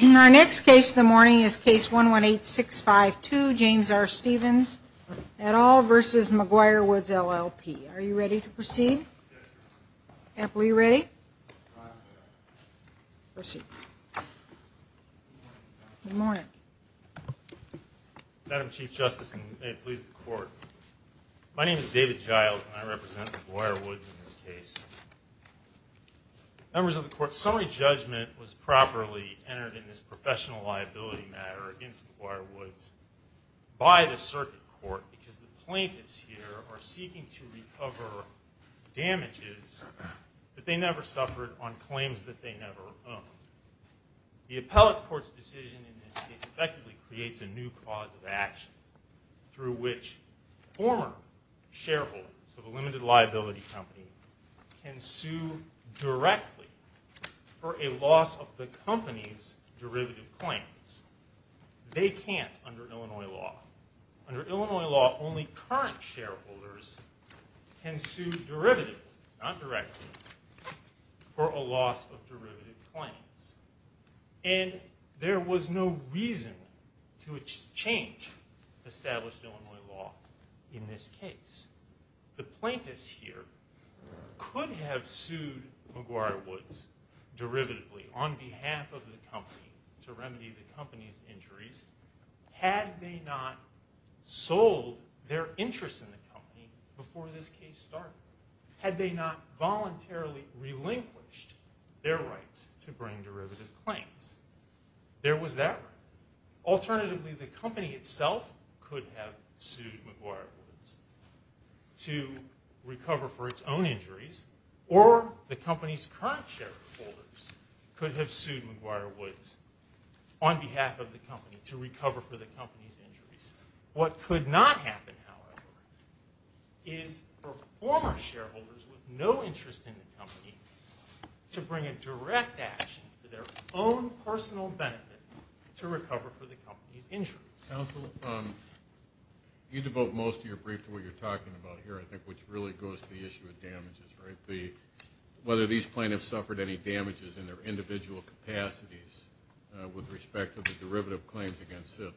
Our next case of the morning is case 118652, James R. Stevens et al. v. McGuire Woods LLP. Are you ready to proceed? Yes, Your Honor. We're you ready? I am, Your Honor. Proceed. Good morning, Your Honor. Good morning. Madam Chief Justice, and may it please the Court, my name is David Giles, and I represent McGuire Woods in this case. Members of the Court, summary judgment was properly entered in this professional liability matter against McGuire Woods by the circuit court because the plaintiffs here are seeking to recover damages that they never suffered on claims that they never owned. The appellate court's decision in this case effectively creates a new cause of action through which former shareholders of a limited liability company can sue directly for a loss of the company's derivative claims. They can't under Illinois law. Under Illinois law, only current shareholders can sue derivatively, not directly, for a loss of derivative claims. And there was no reason to change established Illinois law in this case. The plaintiffs here could have sued McGuire Woods derivatively on behalf of the company to remedy the company's injuries had they not sold their interest in the company before this case started, had they not voluntarily relinquished their right to bring derivative claims. There was that right. Alternatively, the company itself could have sued McGuire Woods to recover for its own injuries, or the company's current shareholders could have sued McGuire Woods on behalf of the company to recover for the company's injuries. What could not happen, however, is for former shareholders with no interest in the company to bring a direct action for their own personal benefit to recover for the company's injuries. Absolutely. You devote most of your brief to what you're talking about here, I think, which really goes to the issue of damages, right? Whether these plaintiffs suffered any damages in their individual capacities with respect to the derivative claims against them.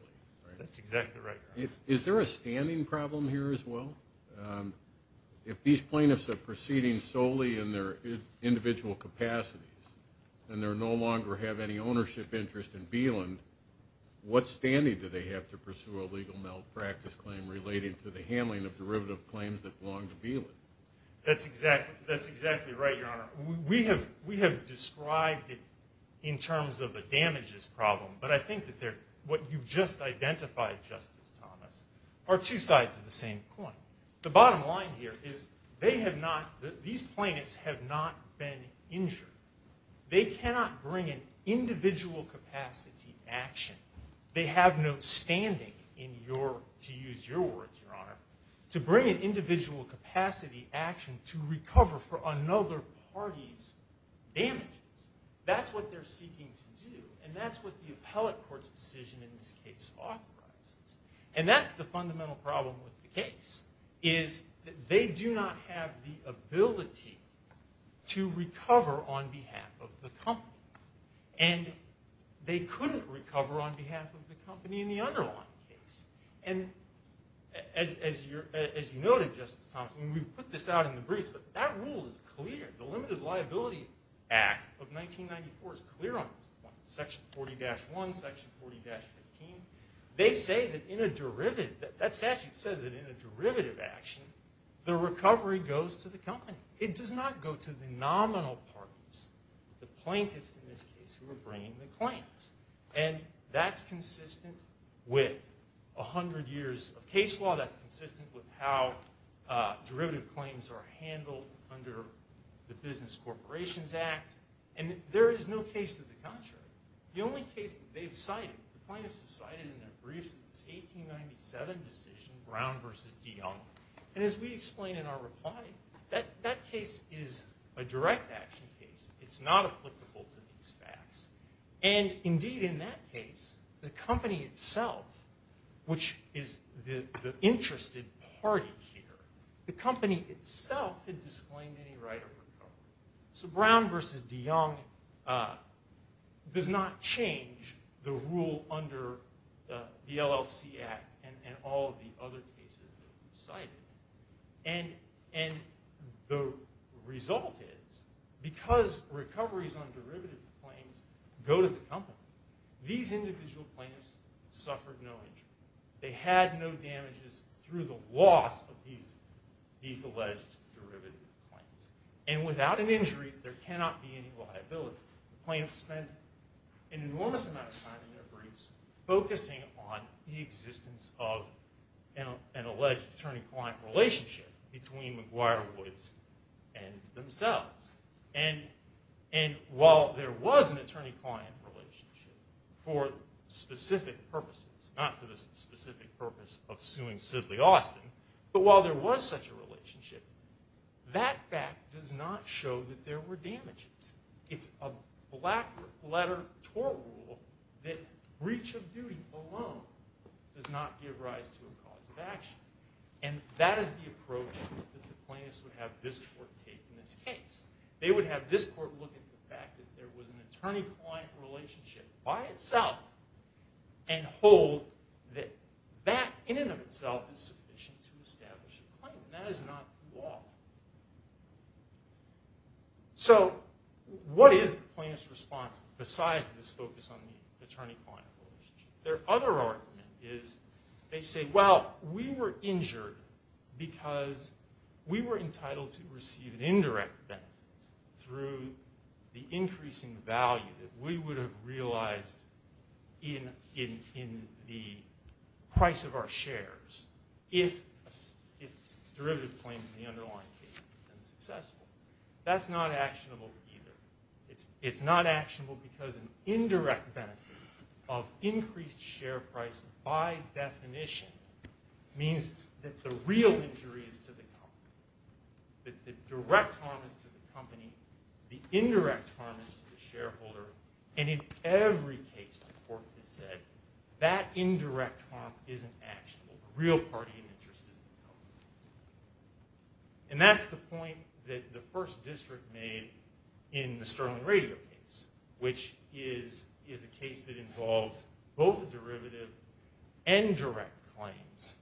That's exactly right, Your Honor. Is there a standing problem here as well? If these plaintiffs are proceeding solely in their individual capacities and they no longer have any ownership interest in Beeland, what standing do they have to pursue a legal malpractice claim related to the handling of derivative claims that belong to Beeland? That's exactly right, Your Honor. We have described it in terms of a damages problem, but I think what you've just identified, Justice Thomas, are two sides of the same coin. The bottom line here is these plaintiffs have not been injured. They cannot bring an individual capacity action. They have no standing, to use your words, Your Honor, to bring an individual capacity action to recover for another party's damages. That's what they're seeking to do, and that's what the appellate court's decision in this case authorizes. And that's the fundamental problem with the case, is that they do not have the ability to recover on behalf of the company. And they couldn't recover on behalf of the company in the underlying case. And as you noted, Justice Thomas, and we put this out in the briefs, but that rule is clear. The Limited Liability Act of 1994 is clear on this point. Section 40-1, Section 40-15. They say that in a derivative, that statute says that in a derivative action, the recovery goes to the company. It does not go to the nominal parties, the plaintiffs in this case, who are bringing the claims. And that's consistent with 100 years of case law. That's consistent with how derivative claims are handled under the Business Corporations Act. And there is no case to the contrary. The only case that they've cited, the plaintiffs have cited in their briefs, is the 1897 decision, Brown v. DeYoung. And as we explain in our reply, that case is a direct action case. It's not applicable to these facts. And indeed, in that case, the company itself, which is the interested party here, the company itself had disclaimed any right of recovery. So Brown v. DeYoung does not change the rule under the LLC Act and all of the other cases that we cited. And the result is, because recoveries on derivative claims go to the company, these individual plaintiffs suffered no injury. They had no damages through the loss of these alleged derivative claims. And without an injury, there cannot be any liability. The plaintiffs spent an enormous amount of time in their briefs focusing on the existence of an alleged attorney-client relationship between McGuire-Woods and themselves. And while there was an attorney-client relationship for specific purposes, not for the specific purpose of suing Sidley Austin, but while there was such a relationship, that fact does not show that there were damages. It's a black-letter tort rule that breach of duty alone does not give rise to a cause of action. And that is the approach that the plaintiffs would have this court take in this case. They would have this court look at the fact that there was an attorney-client relationship by itself and hold that that, in and of itself, is sufficient to establish a claim. That is not the law. So what is the plaintiff's response besides this focus on the attorney-client relationship? Their other argument is, they say, well, we were injured because we were entitled to receive an indirect benefit through the increasing value that we would have realized in the price of our shares if derivative claims in the underlying case had been successful. That's not actionable either. It's not actionable because an indirect benefit of increased share price, by definition, means that the real injury is to the company. The direct harm is to the company. The indirect harm is to the shareholder. And in every case, the court has said, that indirect harm isn't actionable. The real party in interest is the company. And that's the point that the first district made in the Sterling Radio case, which is a case that involves both derivative and direct claims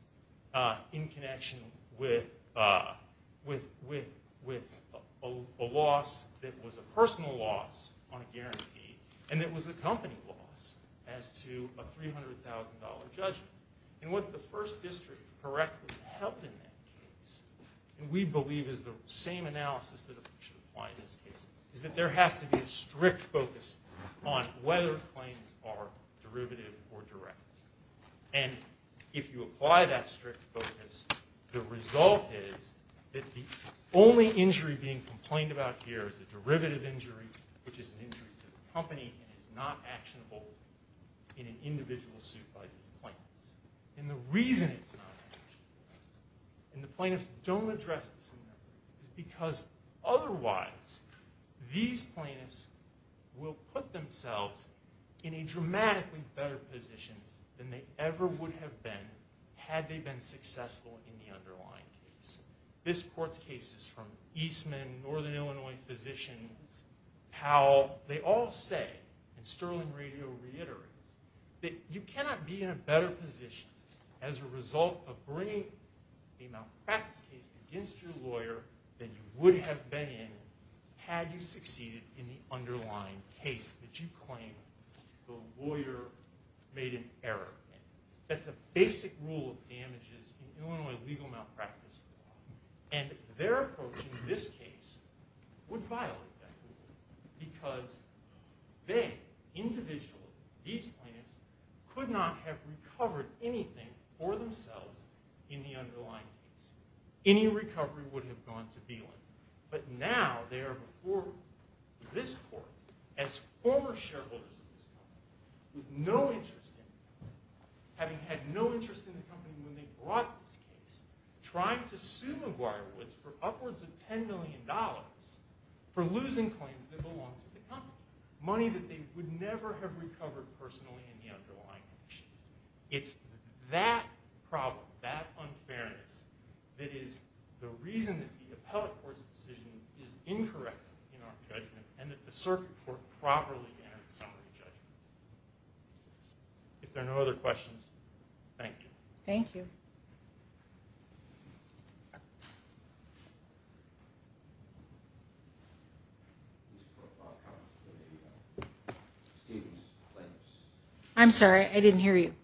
in connection with a loss that was a personal loss on a guarantee and that was a company loss as to a $300,000 judgment. And what the first district correctly held in that case, and we believe is the same analysis that should apply in this case, is that there has to be a strict focus on whether claims are derivative or direct. And if you apply that strict focus, the result is that the only injury being complained about here is a derivative injury, which is an injury to the company and is not actionable in an individual suit by the plaintiffs. And the reason it's not actionable, and the plaintiffs don't address this enough, is because otherwise these plaintiffs will put themselves in a dramatically better position than they ever would have been had they been successful in the underlying case. This court's cases from Eastman, Northern Illinois Physicians, Powell, they all say, and Sterling Radio reiterates, that you cannot be in a better position as a result of bringing a malpractice case against your lawyer than you would have been in had you succeeded in the underlying case that you claim the lawyer made an error in. That's a basic rule of damages in Illinois legal malpractice law. And their approach in this case would violate that rule, because they, individually, these plaintiffs, could not have recovered anything for themselves in the underlying case. Any recovery would have gone to Belin. But now they are before this court, as former shareholders of this company, having had no interest in the company when they brought this case, trying to sue McGuire Woods for upwards of $10 million for losing claims that belonged to the company, money that they would never have recovered personally in the underlying case. It's that problem, that unfairness, that is the reason that the appellate court's decision is incorrect in our judgment, and that the circuit court properly entered the summary judgment. If there are no other questions, thank you. Thank you. I'm sorry, I didn't hear you.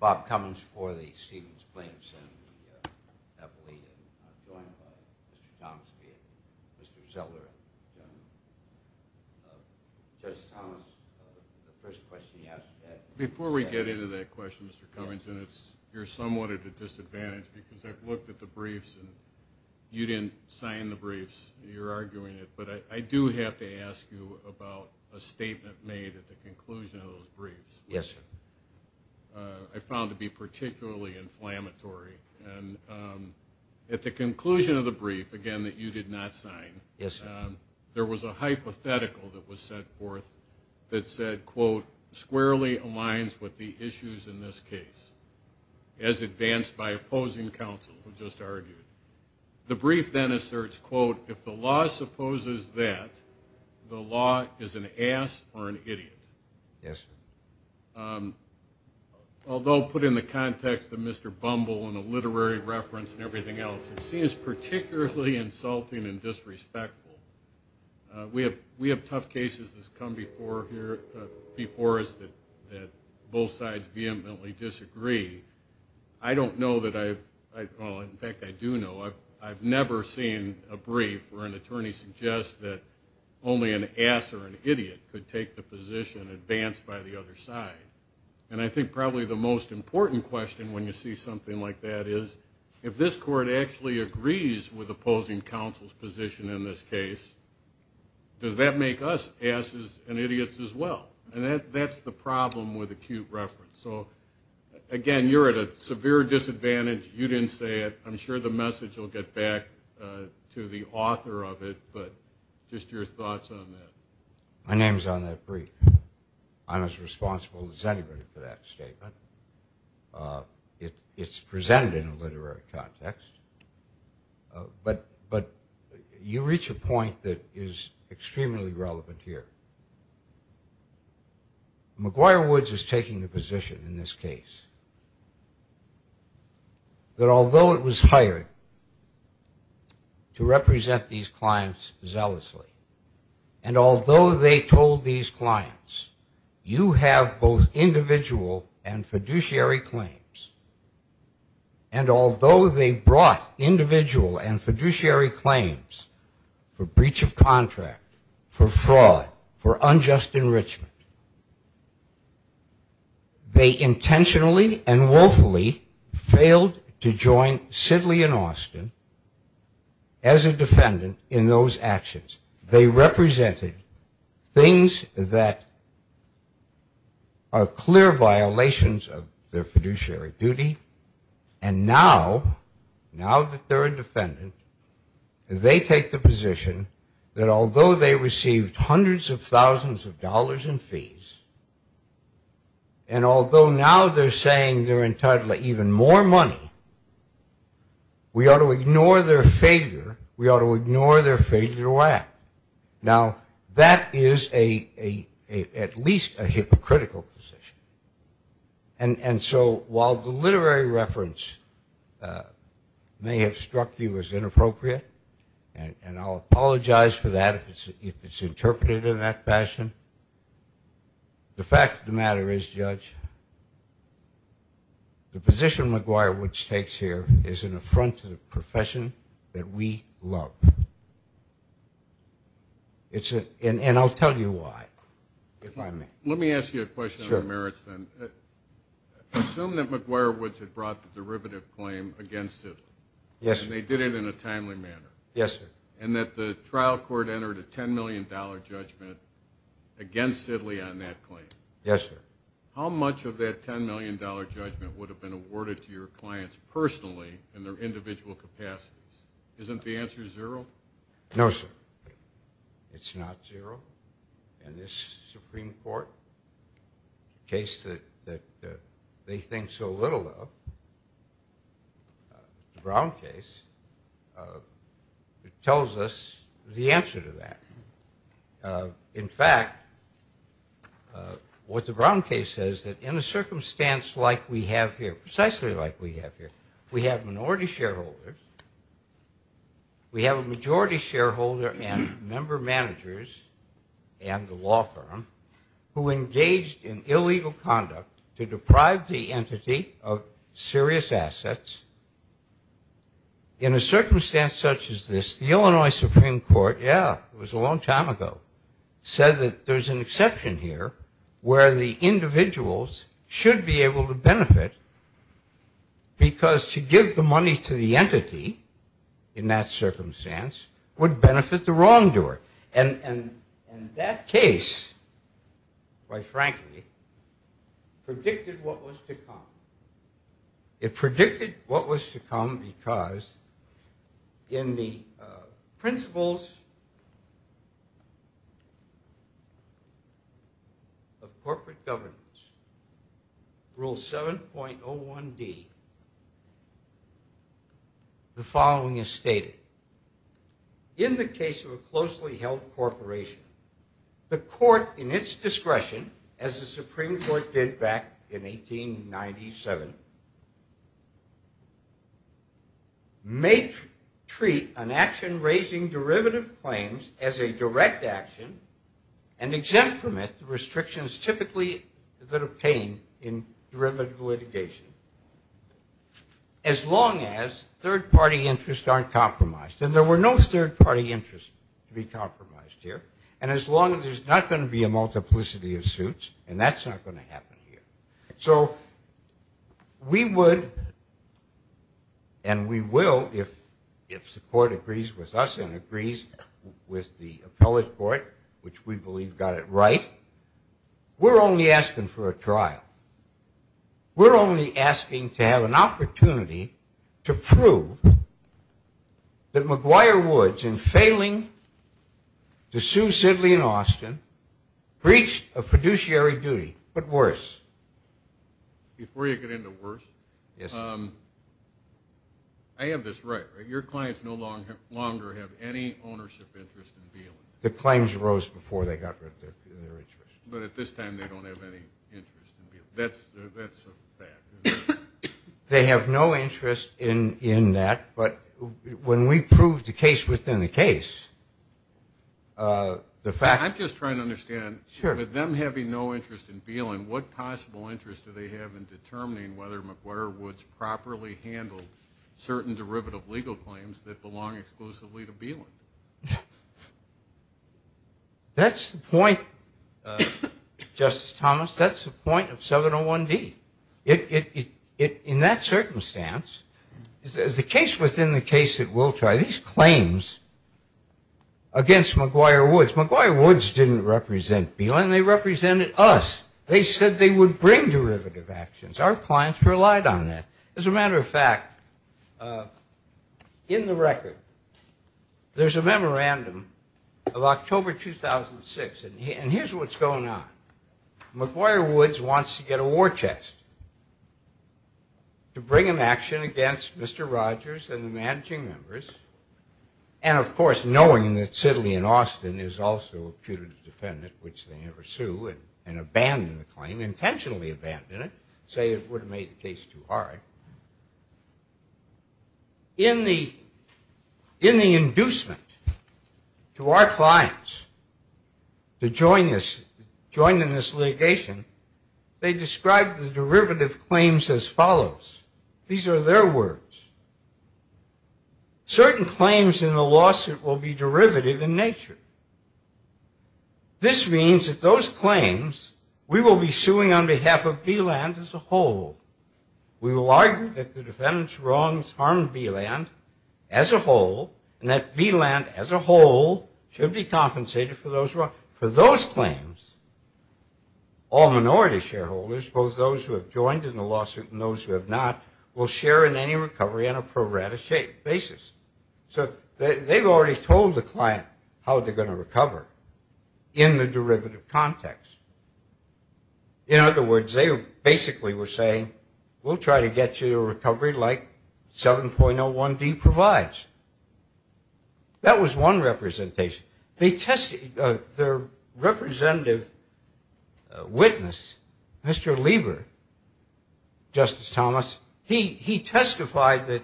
Bob Cummings for the Stevens Plaintiffs and the appellate. And I'm joined by Mr. Thomas, Mr. Zeller. Judge Thomas, the first question you asked... Before we get into that question, Mr. Cummings, you're somewhat at a disadvantage, because I've looked at the briefs, and you didn't sign the briefs. You're arguing it. But I do have to ask you about a statement made at the conclusion of those briefs. Yes, sir. I found it to be particularly inflammatory. And at the conclusion of the brief, again, that you did not sign, there was a hypothetical that was set forth that said, quote, squarely aligns with the issues in this case, as advanced by opposing counsel, who just argued. The brief then asserts, quote, if the law supposes that, the law is an ass or an idiot. Yes. Although put in the context of Mr. Bumble and the literary reference and everything else, it seems particularly insulting and disrespectful. We have tough cases that's come before us that both sides vehemently disagree. I don't know that I've, well, in fact, I do know, I've never seen a brief where an attorney suggests that only an ass or an idiot could take the position advanced by the other side. And I think probably the most important question when you see something like that is, if this court actually agrees with opposing counsel's position in this case, does that make us asses and idiots as well? And that's the problem with acute reference. So, again, you're at a severe disadvantage. You didn't say it. I'm sure the message will get back to the author of it. But just your thoughts on that. My name's on that brief. I'm as responsible as anybody for that statement. It's presented in a literary context. But you reach a point that is extremely relevant here. McGuire Woods is taking the position in this case that although it was hired to represent these clients zealously, and although they told these clients, you have both individual and fiduciary claims, and although they brought individual and fiduciary claims for breach of contract, for fraud, for unjust enrichment, they intentionally and woefully failed to join Sidley and Austin as a defendant in those actions. They represented things that are clear violations of their fiduciary duty, and now that they're a defendant, they take the position that although they received hundreds of thousands of dollars in fees, and although now they're saying they're entitled to even more money, we ought to ignore their failure, we ought to ignore their failure to act. Now, that is at least a hypocritical position. And so while the literary reference may have struck you as inappropriate, and I'll apologize for that if it's interpreted in that fashion, the fact of the matter is, Judge, the position McGuire Woods takes here is an affront to the profession that we love. And I'll tell you why, if I may. Let me ask you a question on the merits then. Sure. Assume that McGuire Woods had brought the derivative claim against Sidley. Yes, sir. And they did it in a timely manner. Yes, sir. And that the trial court entered a $10 million judgment against Sidley on that claim. Yes, sir. How much of that $10 million judgment would have been awarded to your clients personally in their individual capacities? Isn't the answer zero? No, sir. It's not zero. And this Supreme Court, a case that they think so little of, the Brown case, tells us the answer to that. In fact, what the Brown case says that in a circumstance like we have here, precisely like we have here, we have minority shareholders, we have a majority shareholder and member managers and the law firm who engaged in illegal conduct to deprive the entity of serious assets in a circumstance such as this. The Illinois Supreme Court, yeah, it was a long time ago, said that there's an exception here where the individuals should be able to benefit because to give the money to the entity in that circumstance would benefit the wrongdoer. And that case, quite frankly, predicted what was to come. It predicted what was to come because in the principles of corporate governance, Rule 7.01D, the following is stated. In the case of a closely held corporation, the court in its discretion, as the Supreme Court did back in 1897, may treat an action raising derivative claims as a direct action and exempt from it the restrictions typically that are obtained in derivative litigation, as long as third-party interests aren't compromised. And there were no third-party interests to be compromised here. And as long as there's not going to be a multiplicity of suits, and that's not going to happen here. So we would and we will, if the court agrees with us and agrees with the appellate court, which we believe got it right, we're only asking for a trial. We're only asking to have an opportunity to prove that McGuire Woods, in failing to sue Sidley and Austin, breached a fiduciary duty, but worse. Before you get into worse, I have this right. Your clients no longer have any ownership interest in BLM. The claims rose before they got rid of their interest. But at this time, they don't have any interest in BLM. That's a fact, isn't it? They have no interest in that. But when we prove the case within the case, the fact that they have no interest in BLM, what possible interest do they have in determining whether McGuire Woods That's the point, Justice Thomas. That's the point of 701D. In that circumstance, the case within the case that we'll try, these claims against McGuire Woods, McGuire Woods didn't represent BLM. They represented us. They said they would bring derivative actions. Our clients relied on that. As a matter of fact, in the record, there's a memorandum of October 2006, and here's what's going on. McGuire Woods wants to get a war test to bring an action against Mr. Rogers and the managing members, and, of course, knowing that Sidley and Austin is also a putative defendant, which they never sue, and abandon the claim, intentionally abandon it, say it would have made the case too hard. In the inducement to our clients to join in this litigation, they described the derivative claims as follows. These are their words. Certain claims in the lawsuit will be derivative in nature. This means that those claims we will be suing on behalf of BLM as a whole. We will argue that the defendant's wrongs harmed BLM as a whole, and that BLM as a whole should be compensated for those wrongs. For those claims, all minority shareholders, both those who have joined in the lawsuit and those who have not, will share in any recovery on a pro rata basis. So they've already told the client how they're going to recover in the derivative context. In other words, they basically were saying we'll try to get you a recovery like 7.01D provides. That was one representation. Their representative witness, Mr. Lieber, Justice Thomas, he testified that,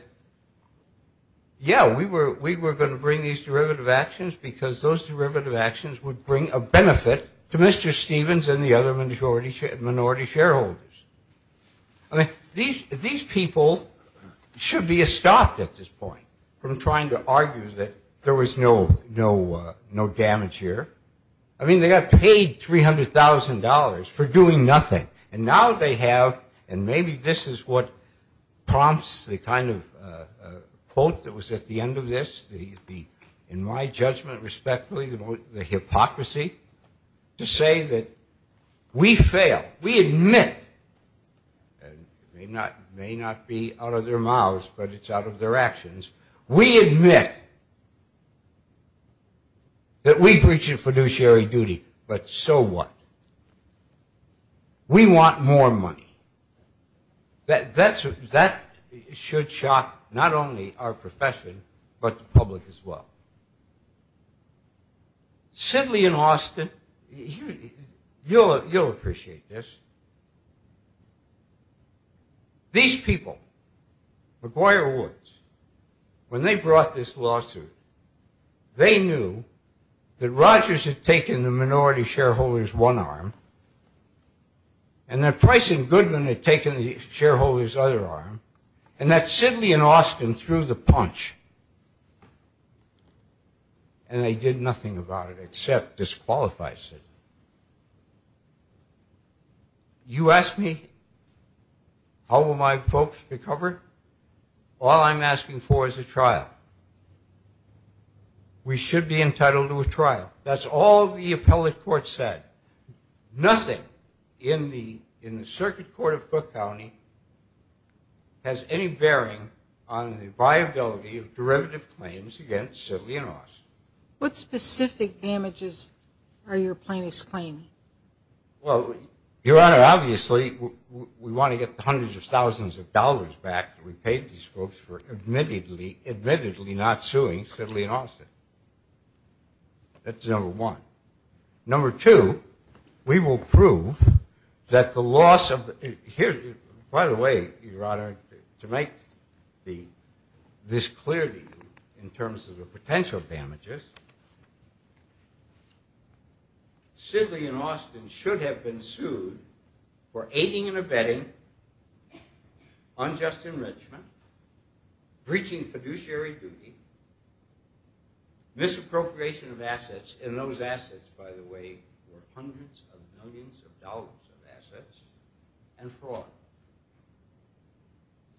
yeah, we were going to bring these derivative actions because those derivative actions would bring a benefit to Mr. Stevens and the other minority shareholders. These people should be stopped at this point from trying to argue that there was no damage here. I mean, they got paid $300,000 for doing nothing, and now they have, and maybe this is what prompts the kind of quote that was at the end of this, in my judgment respectfully, the hypocrisy, to say that we fail, we admit, and it may not be out of their mouths, but it's out of their actions, we admit that we breached a fiduciary duty, but so what? We want more money. That should shock not only our profession, but the public as well. Sidley and Austin, you'll appreciate this. These people, McGuire Woods, when they brought this lawsuit, they knew that Rogers had taken the minority shareholder's one arm, and that Price and Goodwin had taken the shareholder's other arm, and that Sidley and Austin threw the punch, and they did nothing about it except disqualify Sidley. You ask me how will my folks recover? All I'm asking for is a trial. We should be entitled to a trial. That's all the appellate court said. Nothing in the circuit court of Cook County has any bearing on the viability of derivative claims against Sidley and Austin. What specific damages are your plaintiffs claiming? Well, Your Honor, obviously we want to get the hundreds of thousands of dollars back that we paid these folks for admittedly not suing Sidley and Austin. That's number one. Number two, we will prove that the loss of the ‑‑ by the way, Your Honor, to make this clear to you in terms of the potential damages, Sidley and Austin should have been sued for aiding and abetting unjust enrichment, breaching fiduciary duty, misappropriation of assets, and those assets, by the way, were hundreds of millions of dollars of assets, and fraud.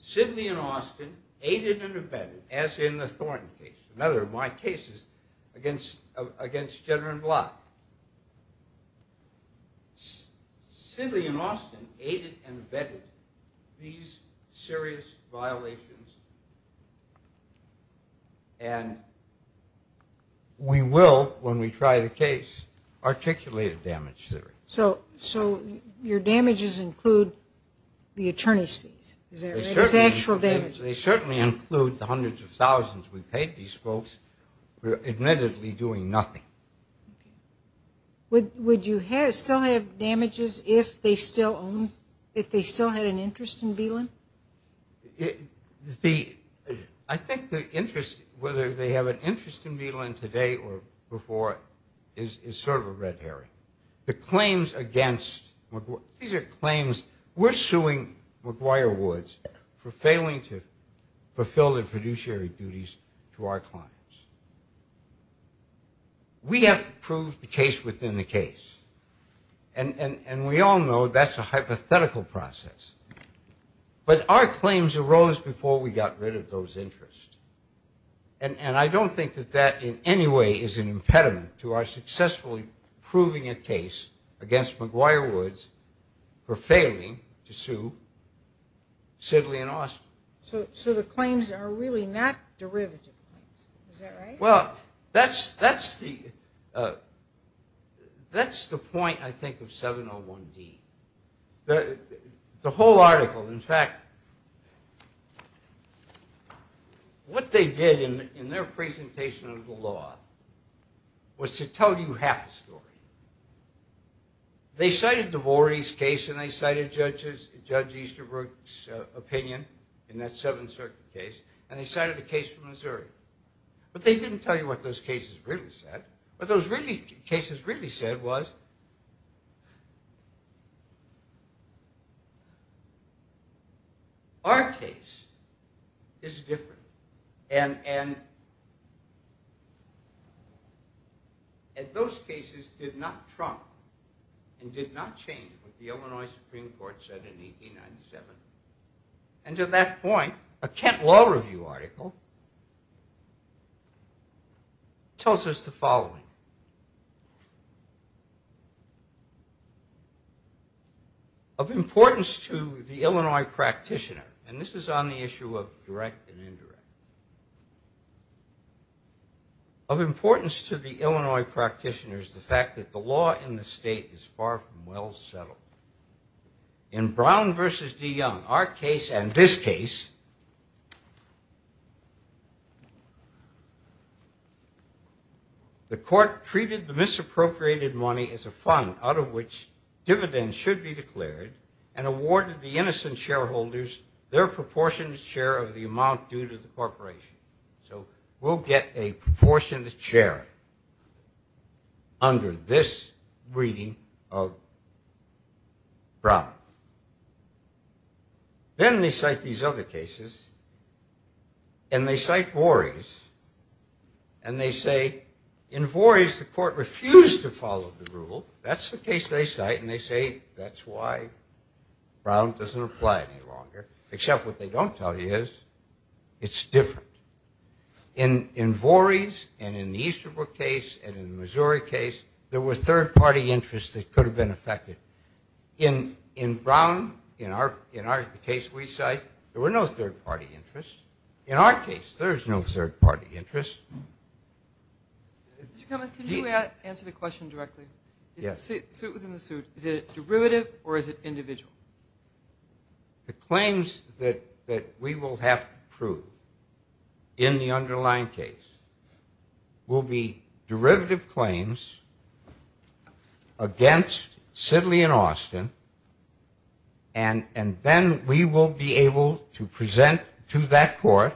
Sidley and Austin aided and abetted, as in the Thornton case, another of my cases, against Jenner and Block. Sidley and Austin aided and abetted these serious violations, and we will, when we try the case, articulate a damage theory. So your damages include the attorney's fees, is that right? The actual damages. They certainly include the hundreds of thousands we paid these folks for admittedly doing nothing. Would you still have damages if they still had an interest in Beelin? I think the interest, whether they have an interest in Beelin today or before, is sort of a red herring. The claims against, these are claims, we're suing McGuire Woods for failing to fulfill their fiduciary duties to our clients. We have proved the case within the case, and we all know that's a hypothetical process. But our claims arose before we got rid of those interests, and I don't think that that in any way is an impediment to our successfully proving a case against McGuire Woods for failing to sue Sidley and Austin. So the claims are really not derivative claims, is that right? Well, that's the point, I think, of 701D. The whole article, in fact, what they did in their presentation of the law was to tell you half the story. They cited DeVore's case and they cited Judge Easterbrook's opinion in that Seventh Circuit case, and they cited a case from Missouri. But they didn't tell you what those cases really said. What those cases really said was, our case is different, and those cases did not trump and did not change what the Illinois Supreme Court said in 1897. And to that point, a Kent Law Review article tells us the following. Of importance to the Illinois practitioner, and this is on the issue of direct and indirect. Of importance to the Illinois practitioners, the fact that the law in the state is far from well settled. In Brown v. DeYoung, our case and this case, the court treated the misappropriated money as a fund out of which dividends should be declared and awarded the innocent shareholders their proportionate share of the amount due to the corporation. So we'll get a proportionate share under this reading of Brown. Then they cite these other cases, and they cite Vorey's, and they say, in Vorey's the court refused to follow the rule. That's the case they cite, and they say that's why Brown doesn't apply any longer. Except what they don't tell you is, it's different. In Vorey's, and in the Easterbrook case, and in the Missouri case, there were third-party interests that could have been affected. In Brown, in the case we cite, there were no third-party interests. In our case, there is no third-party interest. Mr. Cummings, can you answer the question directly? Yes. The suit within the suit, is it a derivative or is it individual? The claims that we will have to prove in the underlying case will be derivative claims against Sidley and Austin, and then we will be able to present to that court,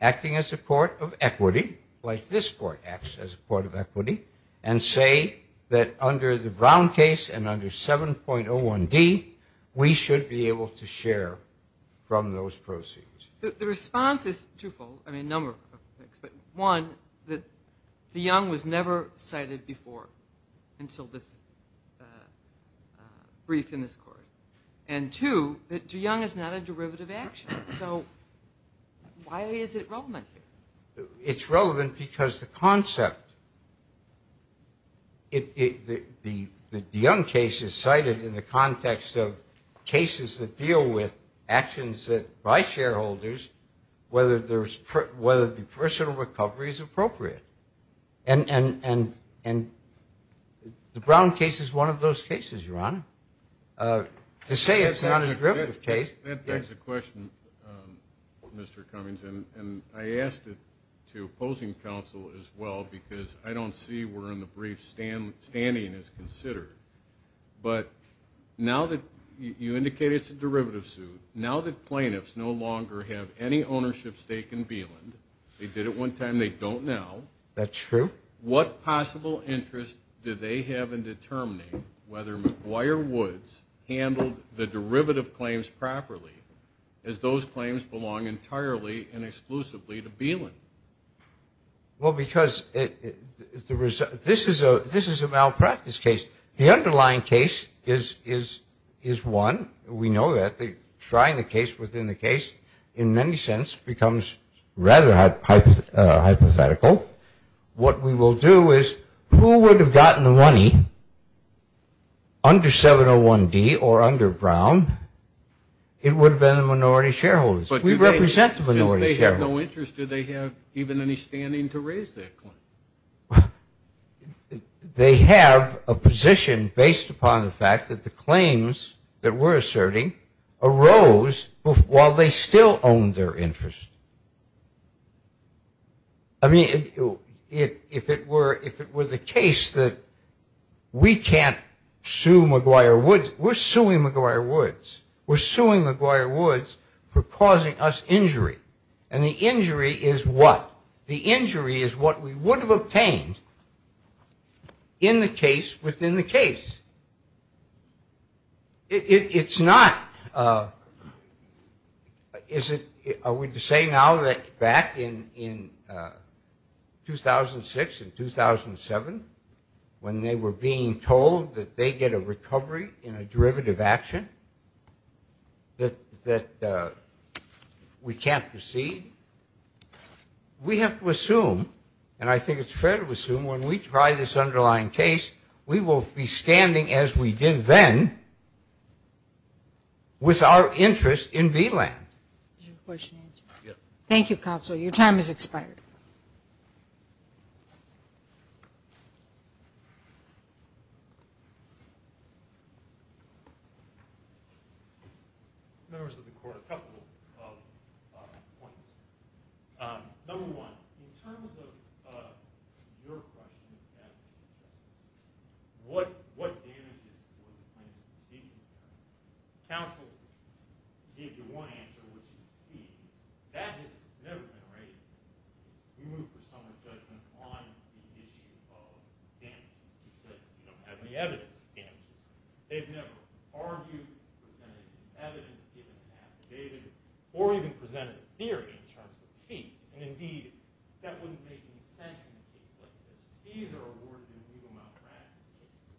acting as a court of equity, like this court acts as a court of equity, and say that under the Brown case and under 7.01D, we should be able to share from those proceeds. The response is twofold, I mean, a number of things. One, that DeYoung was never cited before until this brief in this court, and two, that DeYoung is not a derivative action. So why is it relevant here? It's relevant because the concept, the DeYoung case is cited in the context of cases that deal with actions by shareholders, whether the personal recovery is appropriate. And the Brown case is one of those cases, Your Honor. To say it's not a derivative case. That begs a question, Mr. Cummings, and I asked it to opposing counsel as well because I don't see where in the brief standing is considered. But now that you indicated it's a derivative suit, now that plaintiffs no longer have any ownership stake in Beeland, they did it one time, they don't now. That's true. What possible interest do they have in determining whether McGuire Woods handled the derivative claims properly, as those claims belong entirely and exclusively to Beeland? Well, because this is a malpractice case. The underlying case is one. We know that. Trying the case within the case, in many sense, becomes rather hypothetical. What we will do is who would have gotten the money under 701D or under Brown? It would have been the minority shareholders. We represent the minority shareholders. Since they have no interest, do they have even any standing to raise that claim? They have a position based upon the fact that the claims that we're asserting arose while they still owned their interest. I mean, if it were the case that we can't sue McGuire Woods, we're suing McGuire Woods. We're suing McGuire Woods for causing us injury. And the injury is what? The injury is what we would have obtained in the case within the case. It's not – are we to say now that back in 2006 and 2007, when they were being told that they get a recovery in a derivative action, that we can't proceed? We have to assume, and I think it's fair to assume, when we try this underlying case, we will be standing as we did then with our interest in Beeland. Thank you, Counsel. Counsel, your time has expired. Members of the Court, a couple of points. Number one, in terms of your question, what damages were claimed? Counsel gave you one answer, which was fees. That has never been raised. You moved for someone's judgment on the issue of damages because you don't have any evidence of damages. They've never argued, presented any evidence, given an affidavit, or even presented a theory in terms of fees. And, indeed, that wouldn't make any sense in a case like this. Fees are awarded in legal malpractice cases.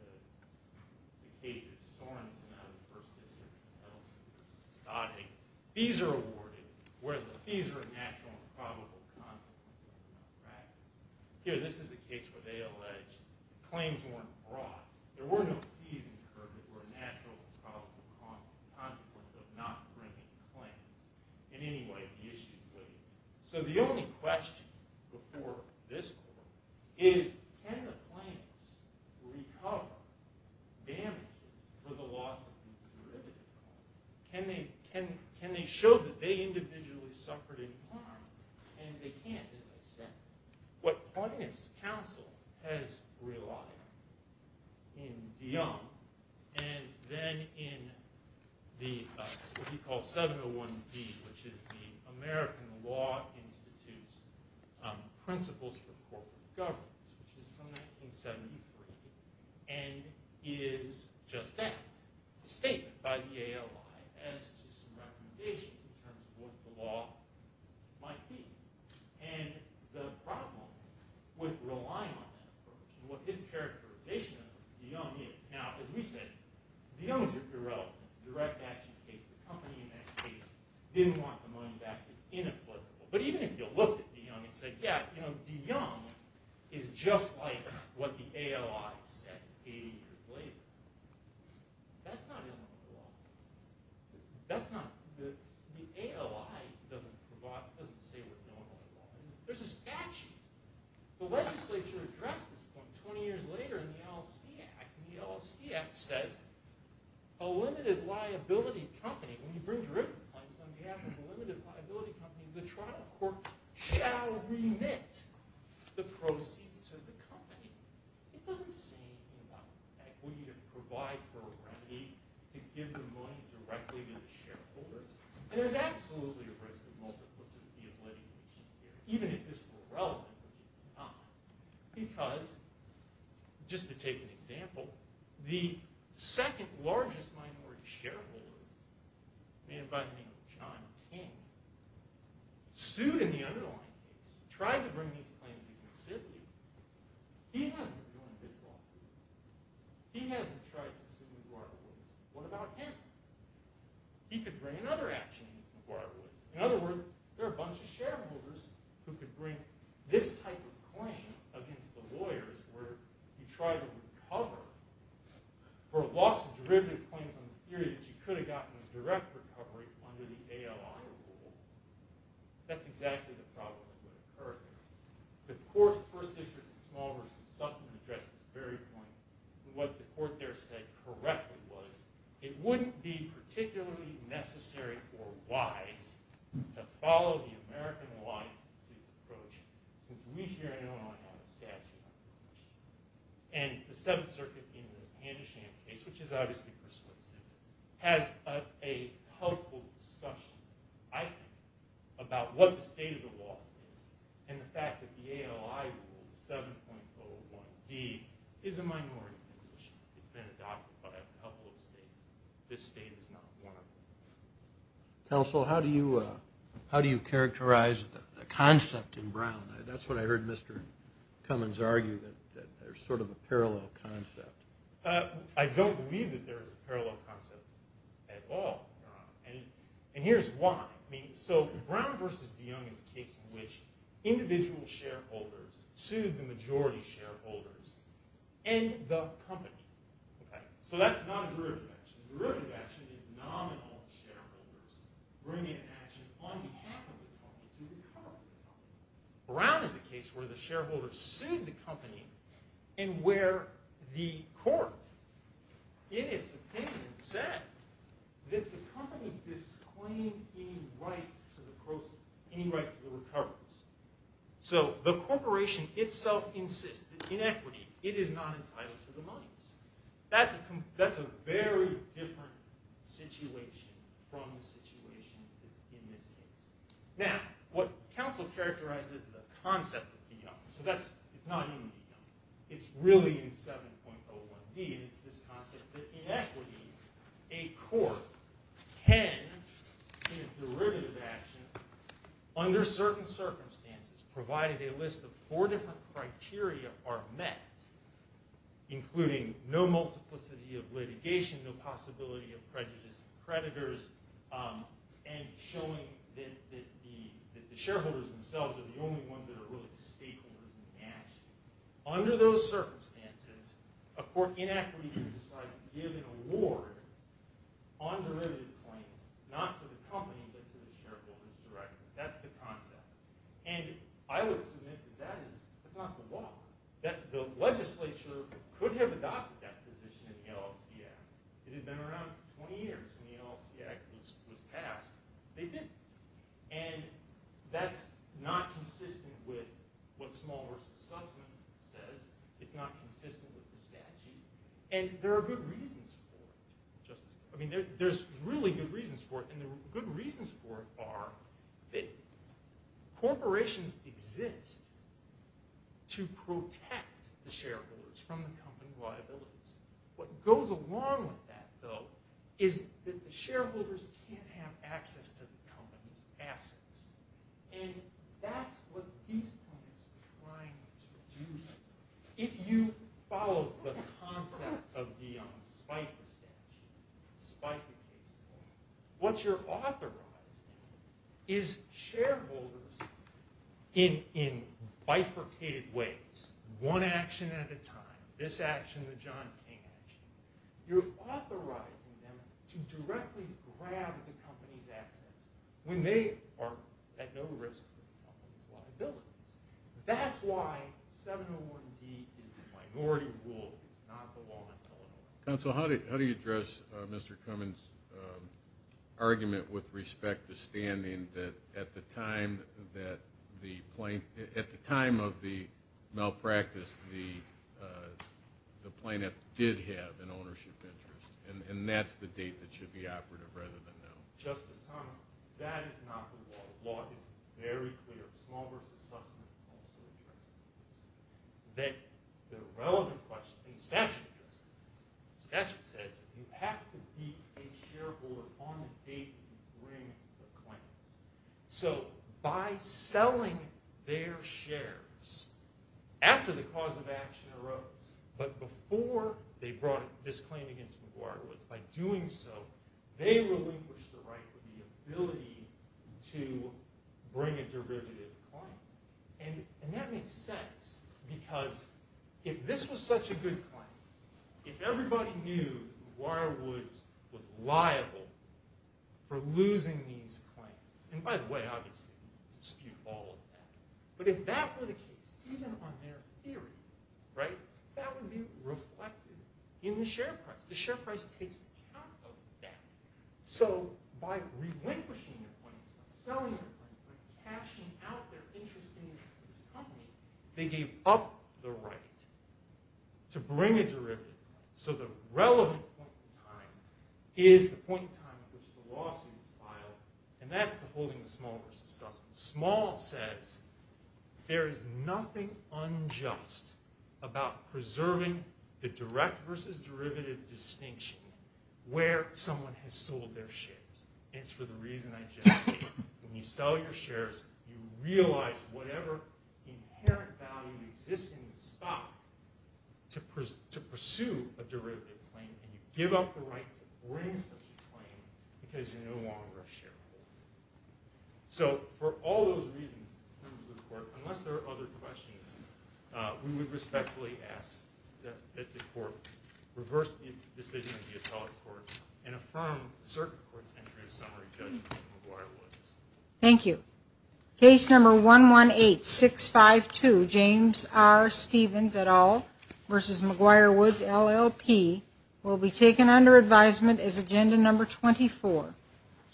In the case of Sorensen, I was the first to visit, and I don't seem to be mistaken. Fees are awarded where the fees are a natural and probable consequence of legal malpractice. Here, this is the case where they allege claims weren't brought. There were no fees incurred that were a natural and probable consequence of not bringing a claim. In any way, the issue wouldn't. So the only question before this court is, can the claimant recover damages for the loss of the derivative? Can they show that they individually suffered any harm? And they can't, in a sense. What Barnett's counsel has relied on in DeYoung and then in what he calls 701D, which is the American Law Institute's Principles for Corporate Governance, which is from 1973, and is just that, a statement by the ALI as to some recommendations in terms of what the law might be. And the problem with relying on that, and what his characterization of DeYoung is. Now, as we said, DeYoung's irrelevant. The direct action case, the company in that case, didn't want the money back. It was inapplicable. But even if you looked at DeYoung and said, yeah, DeYoung is just like what the ALI said 80 years later, that's not illegal at all. The ALI doesn't say we're illegal at all. There's a statute. The legislature addressed this point 20 years later in the LLC Act. And the LLC Act says a limited liability company, when you bring derivative claims on behalf of a limited liability company, the trial court shall remit the proceeds to the company. It doesn't say anything about that. We need to provide for a remedy to give the money directly to the shareholders. And there's absolutely a risk of multiplicity of litigation here, even if this were relevant at the time. Because, just to take an example, the second largest minority shareholder, a man by the name of John King, sued in the underlying case, tried to bring these claims to the city. He hasn't joined this lawsuit. He hasn't tried to sue McGuire-Wood. What about him? He could bring another action against McGuire-Wood. In other words, there are a bunch of shareholders who could bring this type of claim against the lawyers where you try to recover for a loss of derivative claim on the theory that you could have gotten a direct recovery under the ALI rule. That's exactly the problem with McGuire-Wood. The first district in Small versus Sussman addressed this very point, what the court there said correctly was, it wouldn't be particularly necessary or wise to follow the American Law Institute approach, since we here in Illinois have a statute. And the Seventh Circuit in the Pandasham case, which is obviously persuasive, has a helpful discussion, I think, about what the state of the law is and the fact that the ALI rule, 7.01d, is a minority position. It's been adopted by a couple of states. This state is not one of them. Counsel, how do you characterize the concept in Brown? That's what I heard Mr. Cummins argue, that there's sort of a parallel concept. I don't believe that there is a parallel concept at all, Your Honor. And here's why. So Brown versus DeYoung is a case in which individual shareholders sued the majority shareholders in the company. So that's not a derivative action. A derivative action is nominal shareholders bringing an action on behalf of the company to recover the company. Brown is a case where the shareholders sued the company and where the court, in its opinion, said that the company disclaimed any right to the proceeds, any right to the recoveries. So the corporation itself insists that in equity, it is not entitled to the monies. That's a very different situation from the situation in this case. Now, what counsel characterized is the concept of DeYoung. So it's not only DeYoung. It's really in 7.01d, and it's this concept that in equity, a court can, in a derivative action, under certain circumstances, provided a list of four different criteria are met, including no multiplicity of litigation, no possibility of prejudice and creditors, and showing that the shareholders themselves are the only ones that are really stakeholders in the action. Under those circumstances, a court in equity can decide to give an award on derivative claims, not to the company but to the shareholders directly. That's the concept. And I would submit that that is not the law, that the legislature could have adopted that position in the LLC Act. It had been around 20 years since the LLC Act was passed. They didn't. And that's not consistent with what Small Works Assessment says. It's not consistent with the statute. And there are good reasons for it. I mean, there's really good reasons for it, and the good reasons for it are that corporations exist to protect the shareholders from the company liabilities. What goes along with that, though, is that the shareholders can't have access to the company's assets. And that's what these companies are trying to do here. If you follow the concept of the Spiker statute, what you're authorizing is shareholders in bifurcated ways, one action at a time, this action, the John King action, you're authorizing them to directly grab the company's assets when they are at no risk of the company's liabilities. That's why 701B is a minority rule. It's not the law in Illinois. Counsel, how do you address Mr. Cummings' argument with respect to standing that at the time of the malpractice, the plaintiff did have an ownership interest, and that's the date that should be operative rather than now? Justice Thomas, that is not the law. The law is very clear. It's a small group of suspects. The relevant question, the statute says, you have to be a shareholder on the date you bring the claim. So by selling their shares after the cause of action arose, but before they brought this claim against McGuire, by doing so they relinquished the right or the ability to bring a derivative claim. And that makes sense because if this was such a good claim, if everybody knew McGuire Woods was liable for losing these claims, and by the way, obviously you can dispute all of that, but if that were the case, even on their theory, right, that would be reflected in the share price. The share price takes account of that. So by relinquishing their claim, by selling their claim, by cashing out their interest in this company, they gave up the right to bring a derivative claim. So the relevant point in time is the point in time at which the lawsuit is filed, and that's the holding of small versus suspect. Small says there is nothing unjust about preserving the direct versus derivative distinction where someone has sold their shares. And it's for the reason I just gave. When you sell your shares, you realize whatever inherent value exists in the stock to pursue a derivative claim, and you give up the right to bring such a claim because you're no longer a shareholder. So for all those reasons, members of the court, unless there are other questions, we would respectfully ask that the court reverse the decision of the appellate court and affirm the circuit court's entry of summary judgment on McGuire-Woods. Thank you. Case number 118652, James R. Stevens et al. versus McGuire-Woods, LLP, will be taken under advisement as agenda number 24.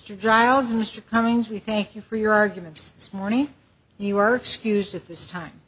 Mr. Giles and Mr. Cummings, we thank you for your arguments this morning, and you are excused at this time.